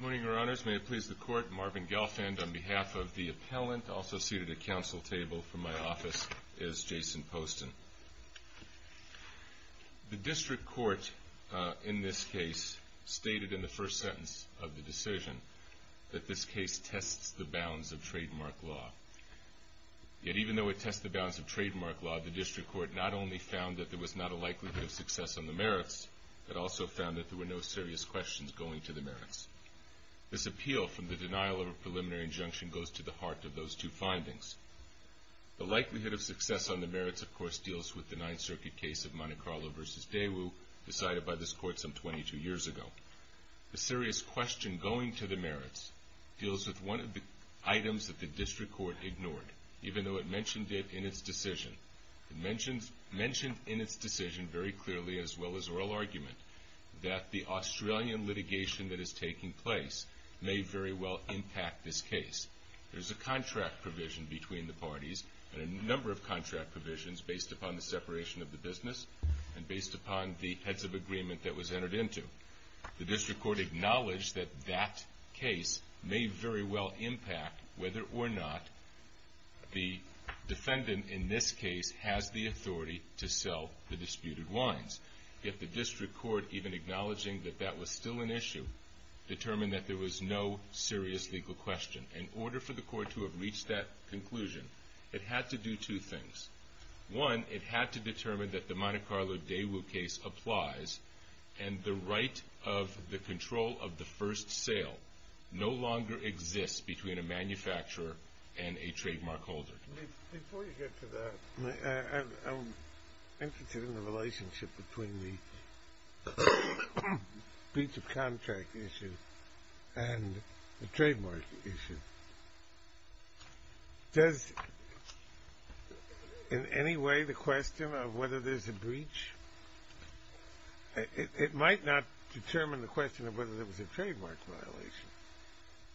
MARVIN GELFAND Good morning, Your Honors. May it please the Court, Marvin Gelfand on behalf of the appellant, also seated at council table from my office, is Jason Poston. The district court in this case stated in the first sentence of the decision that this case tests the bounds of trademark law. Yet even though it tests the bounds of trademark law, the district court not only found that there was not a likelihood of success on the merits, it also found that there were no serious questions going to the merits. This appeal from the denial of a preliminary injunction goes to the heart of those two findings. The likelihood of success on the merits, of course, deals with the Ninth Circuit case of Monte Carlo v. Daewoo, decided by this Court some 22 years ago. The serious question going to the merits deals with one of the items that the district court ignored, even though it mentioned it in its decision. It mentioned in its decision very clearly, as well as oral argument, that the Australian litigation that is taking place may very well impact this case. There's a contract provision between the parties and a number of contract provisions based upon the separation of the business and based upon the heads of agreement that was entered into. The district court acknowledged that that case may very well impact whether or not the defendant in this case has the authority to sell the disputed wines. Yet the district court, even acknowledging that that was still an issue, determined that there was no serious legal question. In order for the court to have reached that conclusion, it had to do two things. One, it had to determine that the Monte Carlo Daewoo case applies and the right of the control of the first sale no longer exists between a manufacturer and a trademark holder. Before you get to that, I'm interested in the relationship between the breach of contract issue and the trademark issue. Does in any way the question of whether there's a breach, it might not determine the question of whether there was a trademark violation,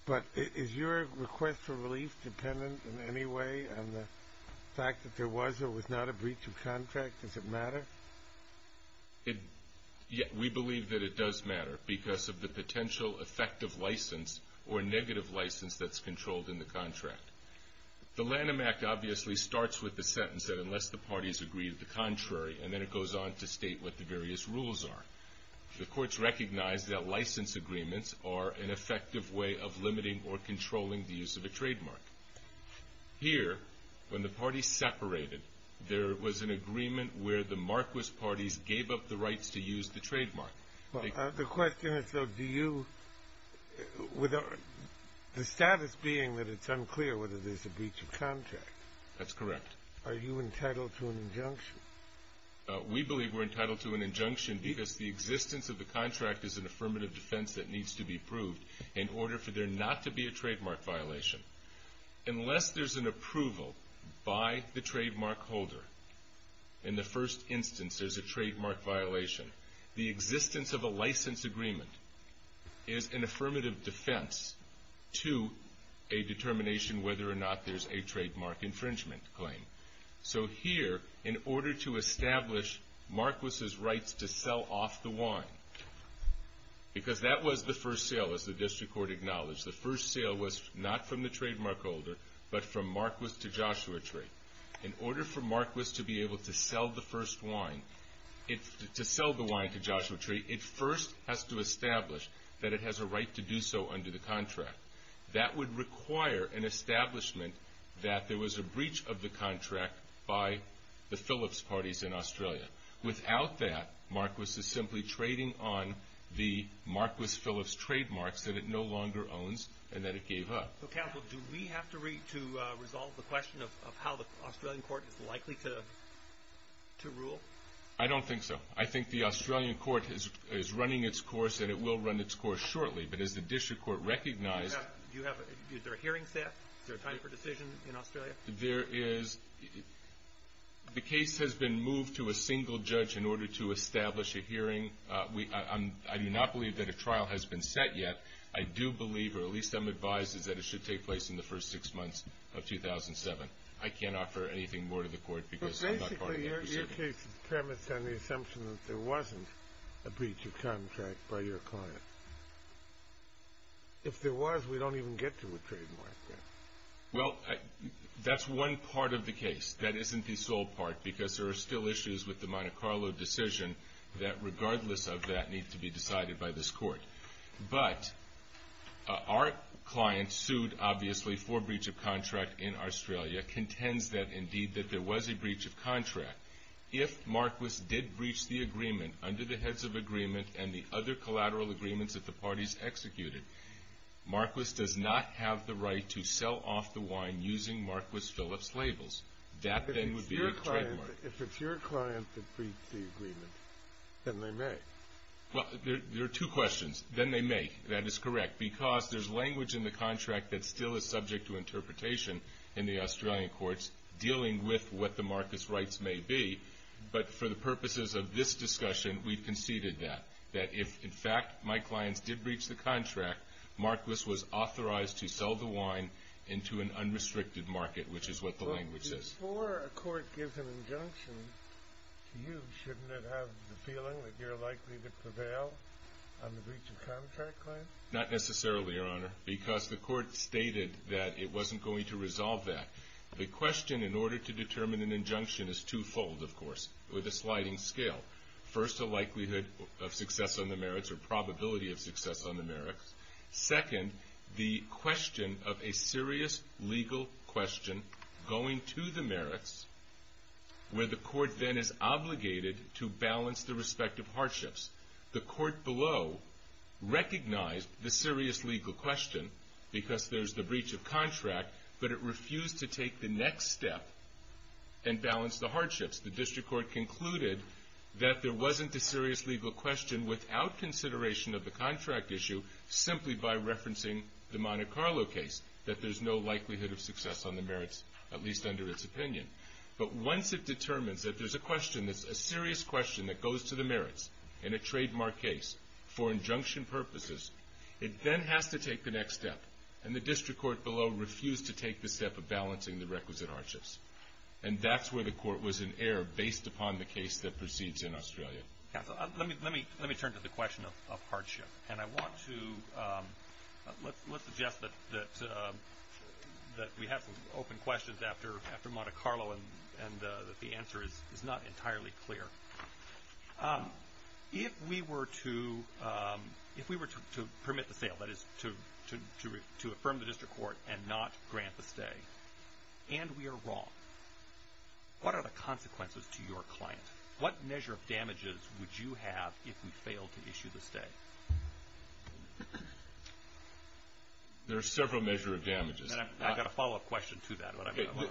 but is your request for relief dependent in any way on the fact that there was or was not a breach of contract? Does it matter? We believe that it does matter because of the potential effect of license or negative license that's controlled in the contract. The Lanham Act obviously starts with the sentence that unless the parties agree to the contrary, and then it goes on to state what the various rules are. The courts recognize that license agreements are an effective way of limiting or controlling the use of a trademark. Here, when the parties separated, there was an agreement where the marquess parties gave up the rights to use the trademark. The question is, though, do you, with the status being that it's unclear whether there's a breach of contract. That's correct. Are you entitled to an injunction? We believe we're entitled to an injunction because the existence of the contract is an affirmative defense that needs to be approved in order for there not to be a trademark violation. Unless there's an approval by the trademark holder, in the first instance, there's a trademark violation. The existence of a license agreement is an affirmative defense to a determination whether or not there's a trademark infringement claim. Here, in order to establish marquess's rights to sell off the wine, because that was the first sale, as the district court acknowledged. The first sale was not from the trademark holder, but from marquess to Joshua Tree. In order for marquess to be able to sell the wine to Joshua Tree, it first has to establish that it has a right to do so under the contract. That would require an establishment that there was a breach of the contract by the Phillips parties in Australia. Without that, marquess is simply trading on the marquess Phillips trademarks that it no longer owns and that it gave up. Counsel, do we have to resolve the question of how the Australian court is likely to rule? I don't think so. I think the Australian court is running its course, and it will run its course shortly. But as the district court recognized. Is there a hearing set? Is there a time for decision in Australia? There is. The case has been moved to a single judge in order to establish a hearing. I do not believe that a trial has been set yet. I do believe, or at least I'm advised, that it should take place in the first six months of 2007. I can't offer anything more to the court because I'm not part of that procedure. Your case is premised on the assumption that there wasn't a breach of contract by your client. If there was, we don't even get to a trademark. Well, that's one part of the case. That isn't the sole part because there are still issues with the Monte Carlo decision that, regardless of that, need to be decided by this court. But our client sued, obviously, for breach of contract in Australia, contends that, indeed, that there was a breach of contract. If Marquis did breach the agreement under the heads of agreement and the other collateral agreements that the parties executed, Marquis does not have the right to sell off the wine using Marquis Phillips labels. That, then, would be a trademark. If it's your client that breached the agreement, then they may. Well, there are two questions. Then they may. That is correct because there's language in the contract that still is subject to interpretation in the Australian courts dealing with what the Marquis rights may be. But for the purposes of this discussion, we've conceded that, that if, in fact, my clients did breach the contract, Marquis was authorized to sell the wine into an unrestricted market, which is what the language says. Before a court gives an injunction to you, shouldn't it have the feeling that you're likely to prevail on the breach of contract claim? Not necessarily, Your Honor, because the court stated that it wasn't going to resolve that. The question in order to determine an injunction is twofold, of course, with a sliding scale. First, the likelihood of success on the merits or probability of success on the merits. Second, the question of a serious legal question going to the merits, where the court then is obligated to balance the respective hardships. The court below recognized the serious legal question because there's the breach of contract, but it refused to take the next step and balance the hardships. The district court concluded that there wasn't a serious legal question without consideration of the contract issue, simply by referencing the Monte Carlo case, that there's no likelihood of success on the merits, at least under its opinion. But once it determines that there's a question that's a serious question that goes to the merits in a trademark case for injunction purposes, it then has to take the next step, and the district court below refused to take the step of balancing the requisite hardships. And that's where the court was in error based upon the case that proceeds in Australia. Counsel, let me turn to the question of hardship. And I want to suggest that we have some open questions after Monte Carlo and that the answer is not entirely clear. If we were to permit the sale, that is to affirm the district court and not grant the stay, and we are wrong, what are the consequences to your client? What measure of damages would you have if we failed to issue the stay? There are several measure of damages. And I've got a follow-up question to that.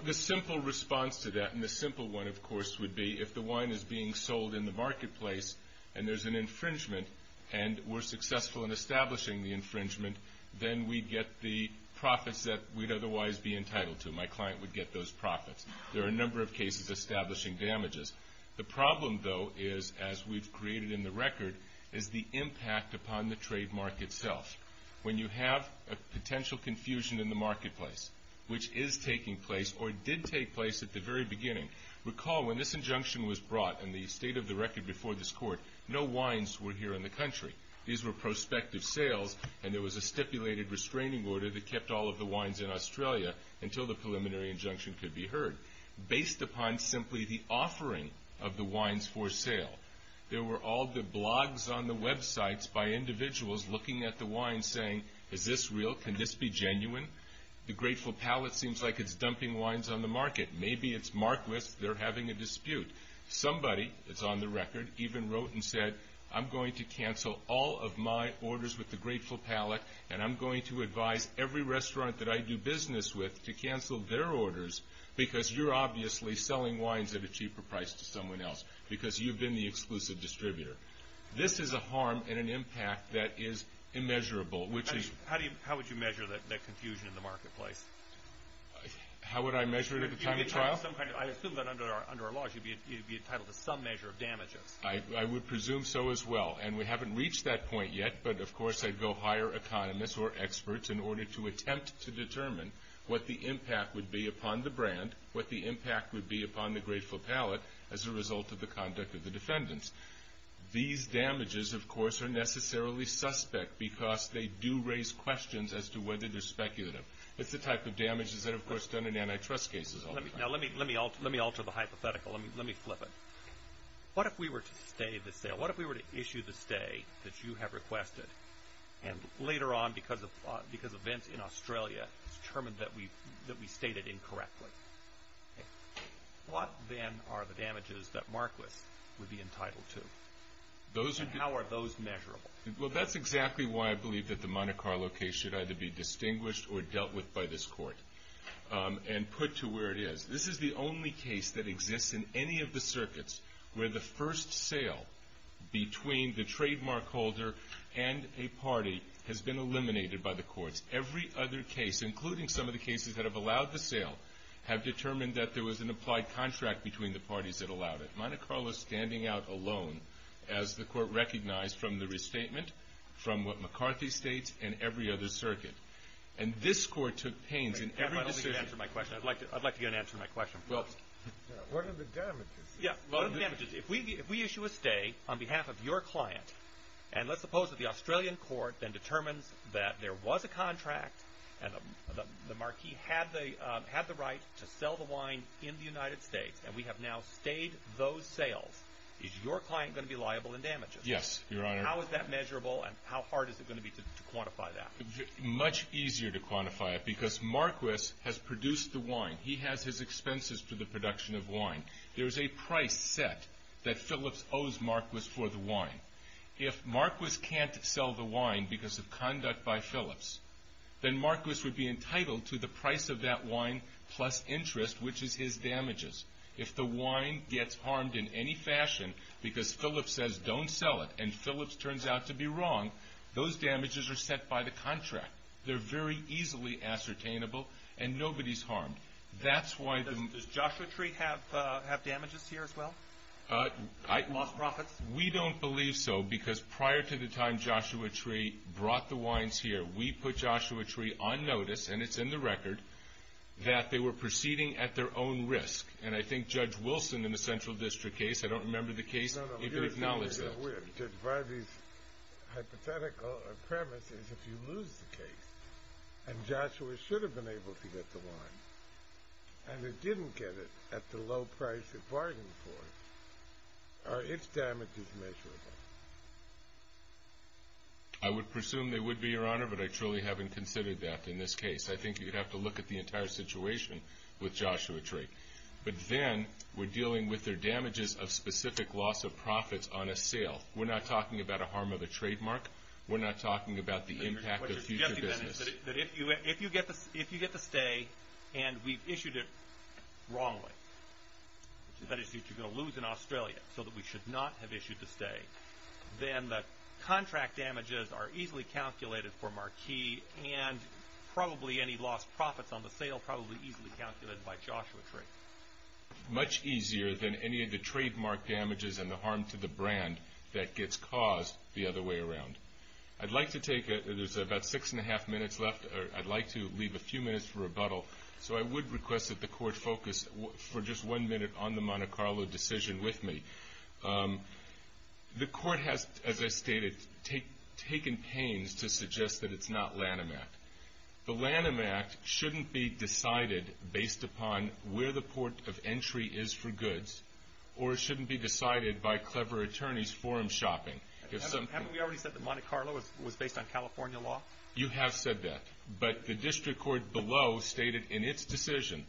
The simple response to that, and the simple one, of course, would be if the wine is being sold in the marketplace and there's an infringement and we're successful in establishing the infringement, then we'd get the profits that we'd otherwise be entitled to. My client would get those profits. There are a number of cases establishing damages. The problem, though, is, as we've created in the record, is the impact upon the trademark itself. When you have a potential confusion in the marketplace, which is taking place or did take place at the very beginning, recall when this injunction was brought and the state of the record before this court, no wines were here in the country. These were prospective sales, and there was a stipulated restraining order that kept all of the wines in Australia until the preliminary injunction could be heard. Based upon simply the offering of the wines for sale, there were all the blogs on the websites by individuals looking at the wines saying, Is this real? Can this be genuine? The Grateful Palate seems like it's dumping wines on the market. Maybe it's Marquis. They're having a dispute. Somebody that's on the record even wrote and said, I'm going to cancel all of my orders with the Grateful Palate, and I'm going to advise every restaurant that I do business with to cancel their orders because you're obviously selling wines at a cheaper price to someone else because you've been the exclusive distributor. This is a harm and an impact that is immeasurable. How would you measure that confusion in the marketplace? How would I measure it at the time of trial? I assume that under our laws you'd be entitled to some measure of damages. I would presume so as well, and we haven't reached that point yet, but of course I'd go hire economists or experts in order to attempt to determine what the impact would be upon the brand, what the impact would be upon the Grateful Palate as a result of the conduct of the defendants. These damages, of course, are necessarily suspect because they do raise questions as to whether they're speculative. It's the type of damages that are, of course, done in antitrust cases all the time. Let me alter the hypothetical. Let me flip it. What if we were to stay the sale? What if we were to issue the stay that you have requested, and later on, because of events in Australia, it's determined that we stated incorrectly? What then are the damages that Marquis would be entitled to? How are those measurable? That's exactly why I believe that the Monte Carlo case should either be distinguished or dealt with by this court and put to where it is. This is the only case that exists in any of the circuits where the first sale between the trademark holder and a party has been eliminated by the courts. Every other case, including some of the cases that have allowed the sale, have determined that there was an applied contract between the parties that allowed it. Monte Carlo is standing out alone as the court recognized from the restatement, from what McCarthy states, and every other circuit. And this court took pains in every decision. I'd like to get an answer to my question. What are the damages? What are the damages? If we issue a stay on behalf of your client, and let's suppose that the Australian court then determines that there was a contract, and the marquee had the right to sell the wine in the United States, and we have now stayed those sales, is your client going to be liable in damages? Yes, Your Honor. How is that measurable, and how hard is it going to be to quantify that? Much easier to quantify it, because Marquis has produced the wine. He has his expenses for the production of wine. There is a price set that Philips owes Marquis for the wine. If Marquis can't sell the wine because of conduct by Philips, then Marquis would be entitled to the price of that wine plus interest, which is his damages. If the wine gets harmed in any fashion because Philips says don't sell it, and Philips turns out to be wrong, those damages are set by the contract. They're very easily ascertainable, and nobody's harmed. Does Joshua Tree have damages here as well, lost profits? We don't believe so, because prior to the time Joshua Tree brought the wines here, we put Joshua Tree on notice, and it's in the record, that they were proceeding at their own risk, and I think Judge Wilson in the Central District case, I don't remember the case, even acknowledged that. No, no. and it didn't get it at the low price it bargained for, are its damages measurable? I would presume they would be, Your Honor, but I truly haven't considered that in this case. I think you'd have to look at the entire situation with Joshua Tree. But then we're dealing with their damages of specific loss of profits on a sale. We're not talking about a harm of a trademark. We're not talking about the impact of future business. If you get the stay, and we've issued it wrongly, that is, you're going to lose in Australia, so that we should not have issued the stay, then the contract damages are easily calculated for Marquis, and probably any lost profits on the sale, probably easily calculated by Joshua Tree. Much easier than any of the trademark damages and the harm to the brand that gets caused the other way around. I'd like to take it. There's about six and a half minutes left. I'd like to leave a few minutes for rebuttal, so I would request that the Court focus for just one minute on the Monte Carlo decision with me. The Court has, as I stated, taken pains to suggest that it's not Lanham Act. The Lanham Act shouldn't be decided based upon where the port of entry is for goods, or it shouldn't be decided by clever attorneys forum shopping. Haven't we already said that Monte Carlo was based on California law? You have said that. But the district court below stated in its decision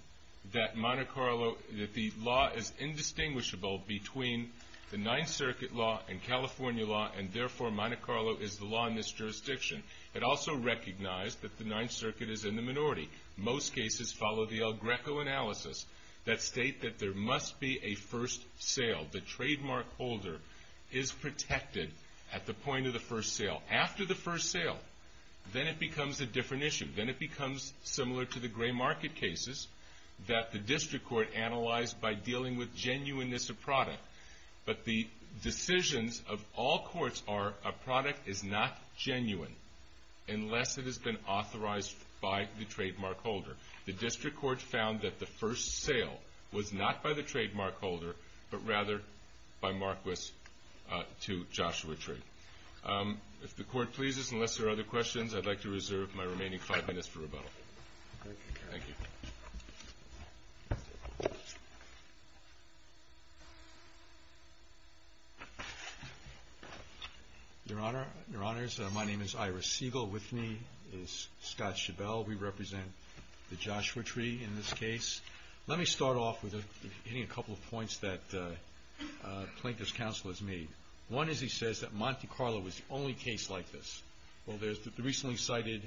that the law is indistinguishable between the Ninth Circuit law and California law, and therefore Monte Carlo is the law in this jurisdiction. It also recognized that the Ninth Circuit is in the minority. Most cases follow the El Greco analysis that state that there must be a first sale. The trademark holder is protected at the point of the first sale. After the first sale, then it becomes a different issue. Then it becomes similar to the gray market cases that the district court analyzed by dealing with genuineness of product. But the decisions of all courts are a product is not genuine unless it has been authorized by the trademark holder. The district court found that the first sale was not by the trademark holder, but rather by Marquis to Joshua Tree. If the court pleases, unless there are other questions, I'd like to reserve my remaining five minutes for rebuttal. Thank you. Your Honor, your Honors, my name is Iris Siegel. With me is Scott Schabel. We represent the Joshua Tree in this case. Let me start off with hitting a couple of points that Plaintiff's counsel has made. One is he says that Monte Carlo was the only case like this. Well, there's the recently cited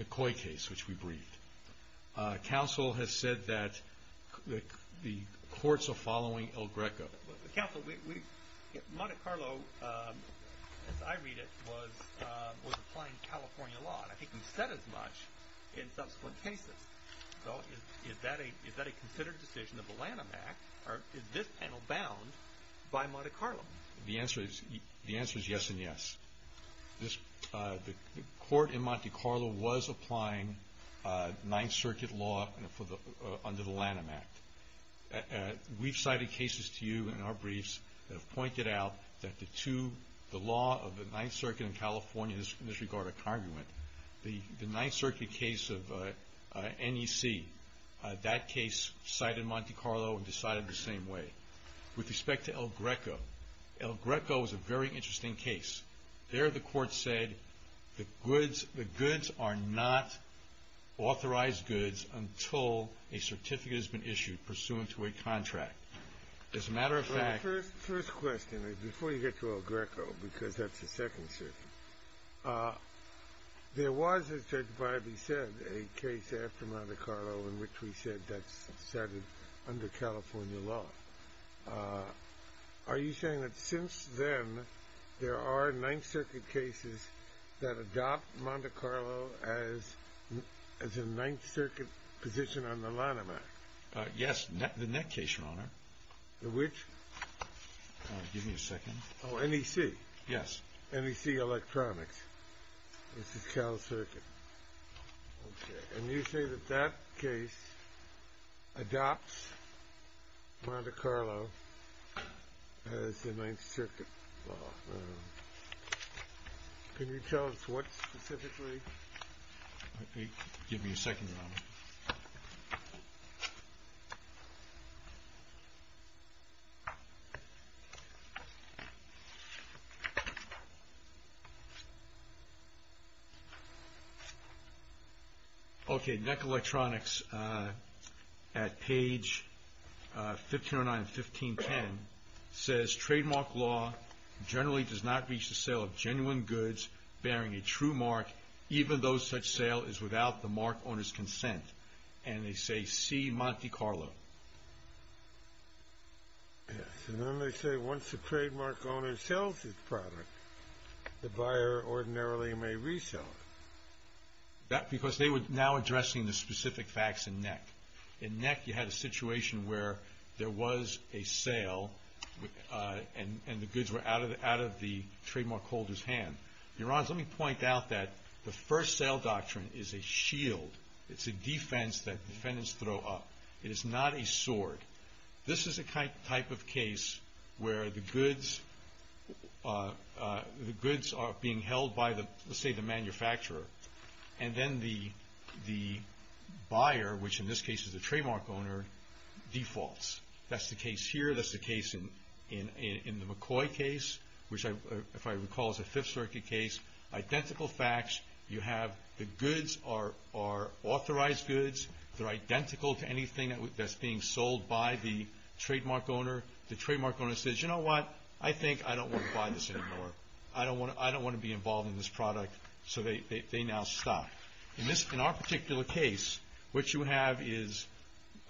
McCoy case which we briefed. Counsel has said that the courts are following El Greco. Counsel, Monte Carlo, as I read it, was applying California law. I think he said as much in subsequent cases. Is that a considered decision of the Lanham Act or is this panel bound by Monte Carlo? The answer is yes and yes. The court in Monte Carlo was applying Ninth Circuit law under the Lanham Act. We've cited cases to you in our briefs that have pointed out that the two, the law of the Ninth Circuit in California disregard a congruent. The Ninth Circuit case of NEC, that case cited Monte Carlo and decided the same way. With respect to El Greco, El Greco is a very interesting case. There the court said the goods are not authorized goods until a certificate has been issued pursuant to a contract. As a matter of fact... First question, before you get to El Greco, because that's the Second Circuit. There was, as Judge Bybee said, a case after Monte Carlo in which we said that's cited under California law. Are you saying that since then there are Ninth Circuit cases that adopt Monte Carlo as a Ninth Circuit position on the Lanham Act? Yes, the NEC case, Your Honor. The which? NEC Electronics. This is Cal Circuit. And you say that that case adopts Monte Carlo as a Ninth Circuit law. Can you tell us what specifically? Give me a second, Your Honor. Okay, NEC Electronics at page 1509 and 1510 says trademark law generally does not reach the sale of genuine goods bearing a true mark even though such sale is without the mark owner's consent. And they say, see Monte Carlo. Yes, and then they say once the trademark owner sells his product, the buyer ordinarily may resell it. Because they were now addressing the specific facts in NEC. In NEC you had a situation where there was a sale and the goods were out of the trademark holder's hand. Your Honor, let me point out that the first sale doctrine is a shield. It's a defense that defendants throw up. It is not a sword. This is a type of case where the goods are being held by let's say the manufacturer. And then the buyer, which in this case is the trademark owner defaults. That's the case here. That's the case in the McCoy case. Which if I recall is a Fifth Circuit case. Identical facts. The goods are authorized goods. They're identical to anything that's being sold by the trademark owner. The trademark owner says, you know what? I think I don't want to buy this anymore. I don't want to be involved in this product. So they now stop. In our particular case, what you have is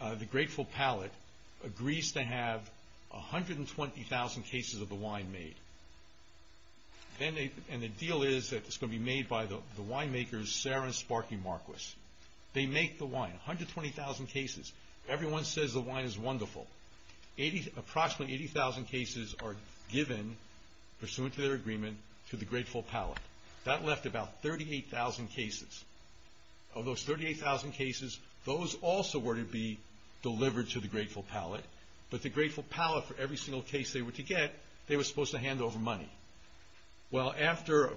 the Grateful Pallet agrees to have 120,000 cases of the wine made. And the deal is that it's going to be made by the winemakers Sarah and Sparky Marquis. They make the wine. 120,000 cases. Everyone says the wine is wonderful. Approximately 80,000 cases are given pursuant to their agreement to the Grateful Pallet. That left about 38,000 cases. Of those 38,000 cases, those also were to be delivered to the Grateful Pallet. But the Grateful Pallet, for every single case they were to get, they were supposed to hand over money. Well, after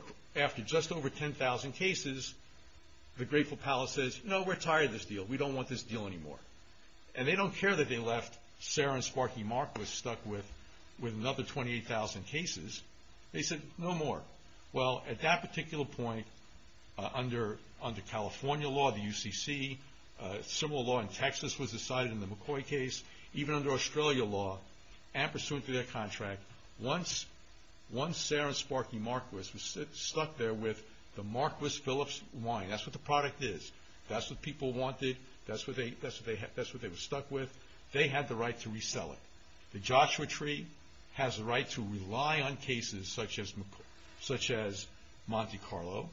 just over 10,000 cases, the Grateful Pallet says, no, we're tired of this deal. We don't want this deal anymore. And they don't care that they left Sarah and Sparky Marquis stuck with another 28,000 cases. They said, no more. Well, at that particular point, under California law, the UCC, similar law in Texas was decided in the McCoy case, even under Australia law, and pursuant to their contract, once Sarah and Sparky Marquis was stuck there with the Marquis Philips wine. That's what the product is. That's what people wanted. That's what they were stuck with. They had the right to resell it. The Joshua Tree has the right to rely on cases such as Monte Carlo.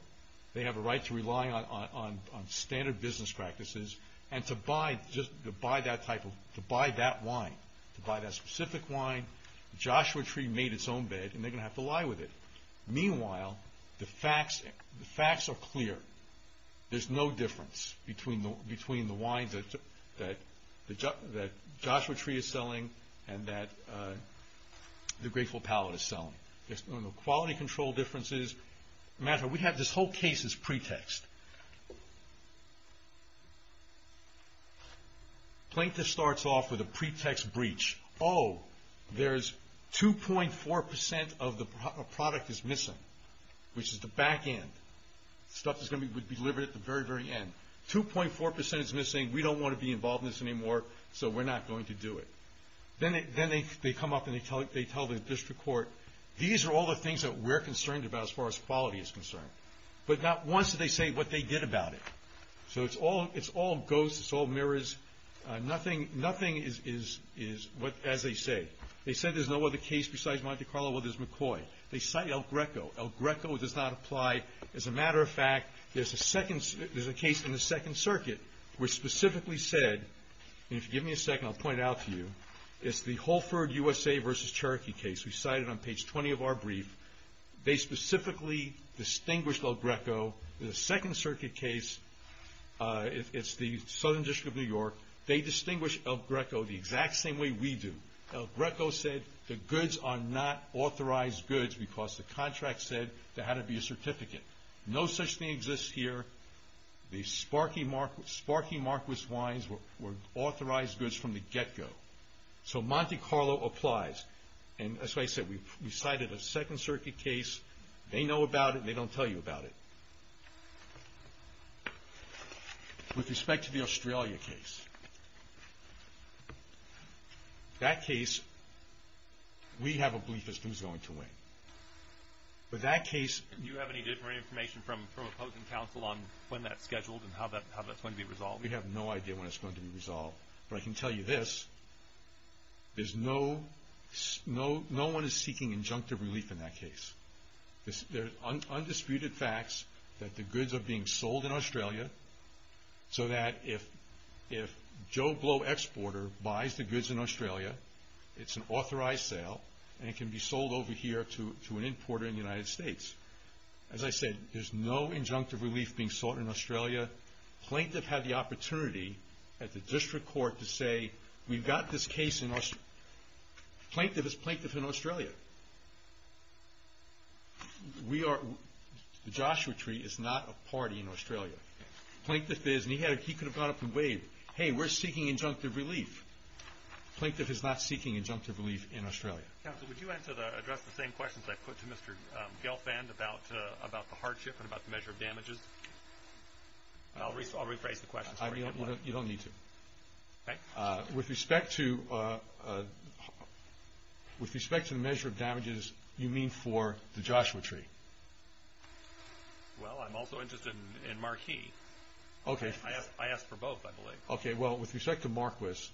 They have a right to rely on standard business practices and to buy that wine. To buy that specific wine. The Joshua Tree made its own bed, and they're going to have to lie with it. Meanwhile, the facts are clear. There's no difference between the wines that Joshua Tree is selling and that the Grateful Pallet is selling. The quality control differences matter. We have this whole case as pretext. Plaintiff starts off with a pretext breach. Oh, there's 2.4% of the product is missing, which is the back end. Stuff is going to be delivered at the very, very end. 2.4% is missing. We don't want to be involved in this anymore, so we're not going to do it. Then they come up and they tell the district court, these are all the things that we're concerned about as far as quality is concerned. But not once do they say what they did about it. It's all ghosts. It's all mirrors. Nothing is as they say. They said there's no other case besides Monte Carlo. Well, there's McCoy. They cite El Greco. El Greco does not apply. As a matter of fact, there's a case in the Second Circuit which specifically said, and if you give me a second, I'll point it out to you. It's the Holford USA versus Cherokee case. We cite it on page 20 of our brief. They specifically distinguished El Greco. The Second Circuit case, it's the Southern District of New York. They distinguish El Greco the exact same way we do. El Greco said the goods are not authorized goods because the contract said there had to be a certificate. No such thing exists here. The Sparky Marquis wines were authorized goods from the get-go. So Monte Carlo applies. And as I said, we cited a Second Circuit case. They know about it and they don't tell you about it. With respect to the Australia case. That case, we have a belief as to who's going to win. But that case... Do you have any different information from opposing counsel on when that's scheduled and how that's going to be resolved? We have no idea when it's going to be resolved. But I can tell you this. No one is seeking injunctive relief in that case. There's undisputed facts that the goods are being sold in Australia so that if Joe Blow Exporter buys the goods in Australia, it's an authorized sale and it can be sold over here to an importer in the United States. As I said, there's no injunctive relief being sought in Australia. Plaintiff had the opportunity at the district court to say, we've got this case in... Plaintiff is plaintiff in Australia. We are... The Joshua Tree is not a party in Australia. Plaintiff is and he could have gone up and waved. Hey, we're seeking injunctive relief. Plaintiff is not seeking injunctive relief in Australia. Counsel, would you address the same questions I put to Mr. Gelfand about the hardship and about the measure of damages? I'll rephrase the question. You don't need to. With respect to the measure of damages, you mean for the Joshua Tree? Well, I'm also interested in Marquis. I asked for both, I believe. Well, with respect to Marquis,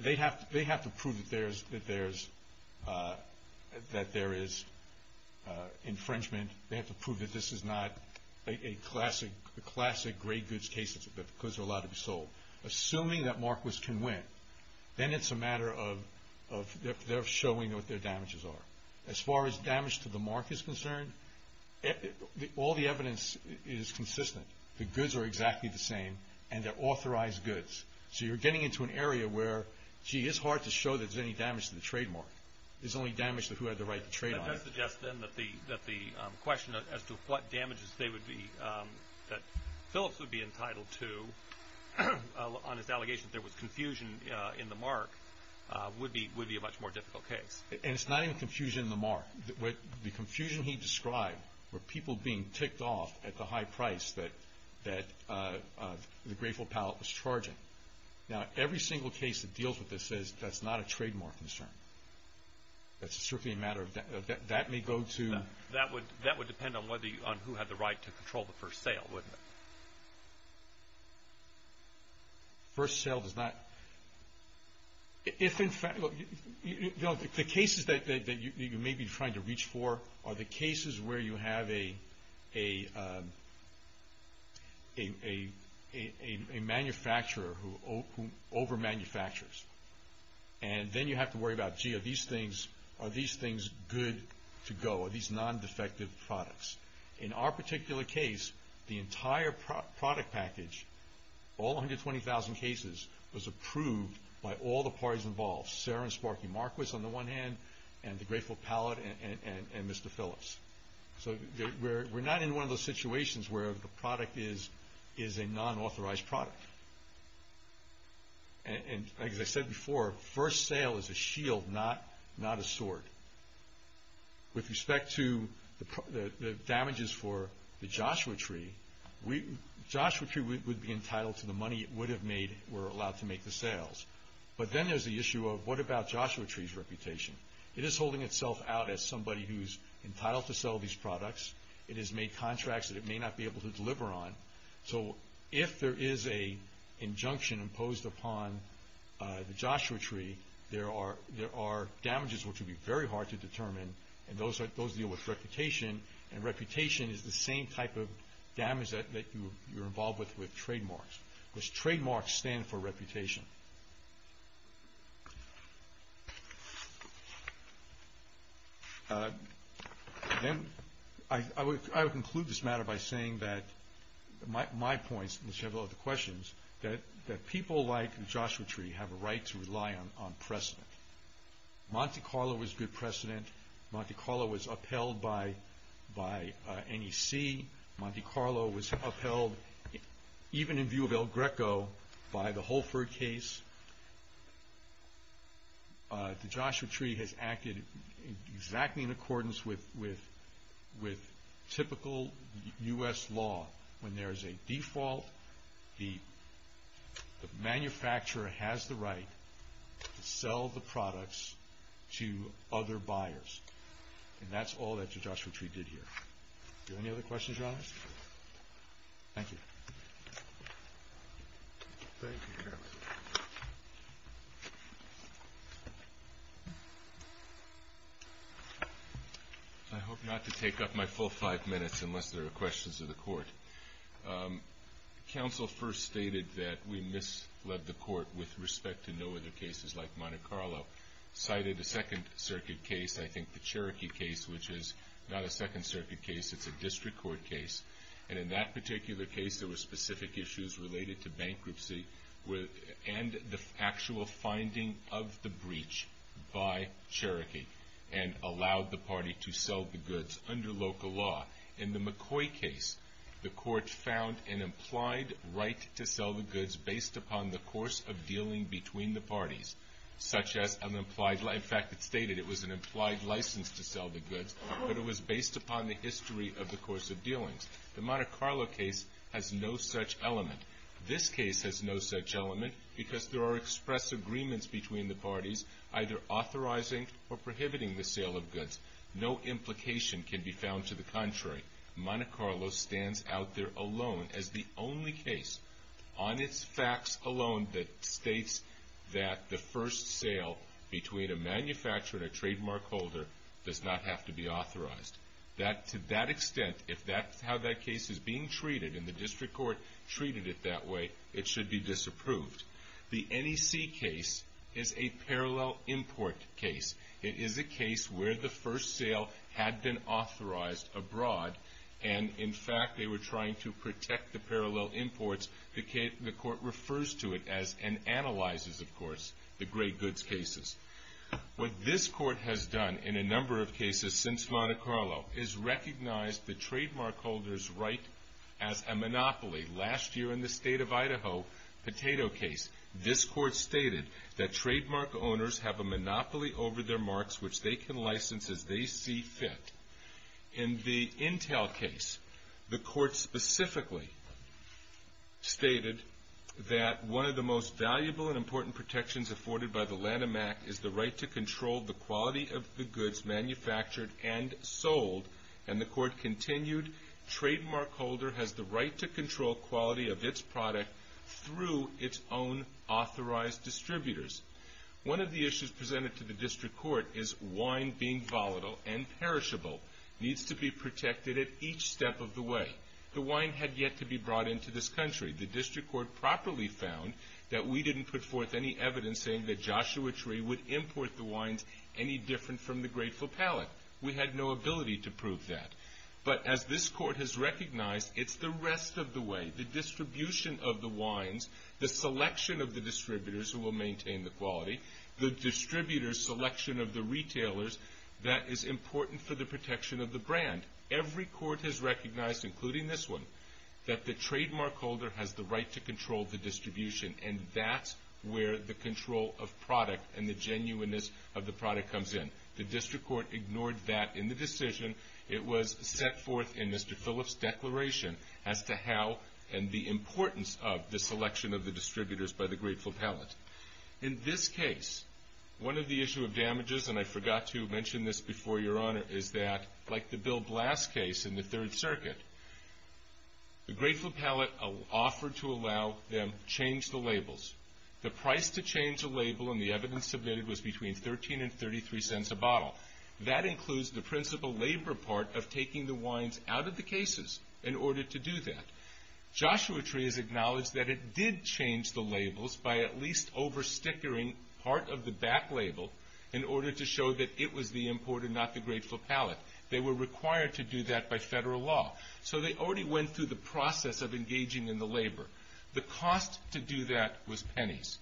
they have to prove that there is infringement. They have to prove that this is not a classic great goods case because they're allowed to be sold. Assuming that Marquis can win, then it's a matter of showing what their damages are. As far as damage to the mark is concerned, all the evidence is consistent. The goods are exactly the same and they're authorized goods. So you're getting into an area where, gee, it's hard to show there's any damage to the trademark. There's only damage to who had the right to trade on it. That does suggest then that the question as to what damages that Phillips would be entitled to on his allegation that there was confusion in the mark would be a much more difficult case. And it's not even confusion in the mark. The confusion he described were people being ticked off at the high price that the Grateful Pallet was charging. Now, every single case that deals with this says that's not a trademark concern. That may go to... That would depend on who had the right to control the first sale, wouldn't it? First sale does not... If in fact... The cases that you may be trying to reach for are the cases where you have a manufacturer who over-manufactures. And then you have to worry about, gee, are these things good to go? Are these non-defective products? In our particular case, the entire product package, all 120,000 cases was approved by all the parties involved. Sarah and Sparky Marquis on the one hand, and the Grateful Pallet, and Mr. Phillips. So we're not in one of those situations where the product is a non-authorized product. And like I said before, first sale is a shield, not a sword. With respect to the damages for the Joshua Tree, Joshua Tree would be entitled to the money it would have made if it were allowed to make the sales. But then there's the issue of what about Joshua Tree's reputation? It is holding itself out as somebody who's entitled to sell these products. It has made contracts that it may not be able to deliver on. So if there is an injunction imposed upon the Joshua Tree, there are damages which would be very hard to determine. And those deal with reputation. And reputation is the same type of damage that you're involved with with trademarks. Because trademarks stand for reputation. I would conclude this matter by saying that my points, unless you have other questions, that people like the Joshua Tree have a right to rely on precedent. Monte Carlo was good precedent. Monte Carlo was upheld by NEC. Monte Carlo was upheld, even in view of El Greco, by the Holford case. The Joshua Tree has acted exactly in accordance with typical U.S. law. When there is a default, the manufacturer has the right to sell the products to other buyers. And that's all that the Joshua Tree did here. Do you have any other questions, Your Honor? Thank you. Thank you, Your Honor. I hope not to take up my full five minutes unless there are questions of the Court. Counsel first stated that we misled the Court with respect to no other cases like Monte Carlo. Cited a Second Circuit case, I think the Cherokee case, which is not a Second Circuit case, it's a district court case. And in that particular case, there were specific issues related to bankruptcy and the actual finding of the breach by Cherokee and allowed the Party to sell the goods under local law. In the McCoy case, the Court found an implied right to sell the goods based upon the course of dealing between the parties. In fact, it stated it was an implied license to sell the goods, but it was based upon the history of the course of dealings. The Monte Carlo case has no such element. This case has no such element because there are express agreements between the parties either authorizing or prohibiting the sale of goods. No implication can be found to the contrary. Monte Carlo stands out there alone as the only case on its facts alone that states that the first sale between a manufacturer and a trademark holder does not have to be authorized. To that extent, if that's how that case is being treated and the district court treated it that way, it should be disapproved. The NEC case is a parallel import case. It is a case where the first sale had been authorized abroad and, in fact, they were trying to protect the parallel imports. The Court refers to it as, and analyzes, of course, the great goods cases. What this Court has done in a number of cases since Monte Carlo is recognize the trademark holder's right as a monopoly. Last year in the State of Idaho potato case, this Court stated that trademark owners have a monopoly over their marks, which they can license as they see fit. In the Intel case, the Court specifically stated that one of the most valuable and important protections afforded by the Lanham Act is the right to control the quality of the goods manufactured and sold and the Court continued, trademark holder has the right to control quality of its product through its own authorized distributors. One of the issues presented to the District Court is wine being volatile and perishable needs to be protected at each step of the way. The wine had yet to be brought into this country. The District Court properly found that we didn't put forth any evidence saying that Joshua Tree would import the wines any different from the Grateful Palate. We had no ability to prove that. But as this Court has recognized, it's the rest of the way. The distribution of the wines, the selection of the distributors who will maintain the quality, the distributors' selection of the retailers, that is important for the protection of the brand. Every Court has recognized, including this one, that the trademark holder has the right to control the distribution and that's where the control of product and the genuineness of the product comes in. The District Court ignored that in the decision. It was set forth in Mr. Phillips' declaration as to how and the importance of the selection of the distributors by the Grateful Palate. In this case, one of the issue of damages, and I forgot to mention this before, Your Honor, is that, like the Bill Blass case in the Third Circuit, the Grateful Palate offered to allow them to change the labels. The price to change a label and the evidence submitted was between $0.13 and $0.33 a bottle. That includes the principal labor part of taking the wines out of the cases in order to do that. Joshua Tree has acknowledged that it did change the labels by at least over-stickering part of the back label in order to show that it was the import and not the Grateful Palate. They were required to do that by federal law, so they already went through the process of engaging in the labor. The cost to do that was pennies,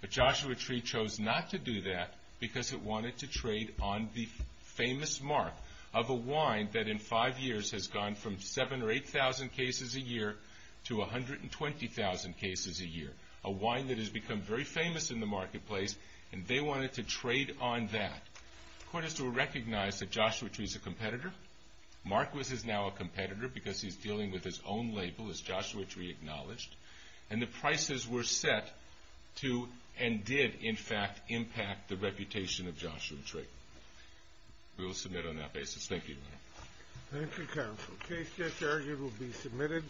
but Joshua Tree chose not to do that because it wanted to trade on the famous mark of a wine that in five years has gone from 7,000 or 8,000 cases a year to 120,000 cases a year, a wine that has become very famous in the marketplace, and they wanted to trade on that. The Court has to recognize that Joshua Tree is a competitor. Marquis is now a competitor because he's dealing with his own label, as Joshua Tree acknowledged, and the prices were set to and did, in fact, impact the reputation of Joshua Tree. We will submit on that basis. Thank you. Thank you, counsel. Case just argued will be submitted.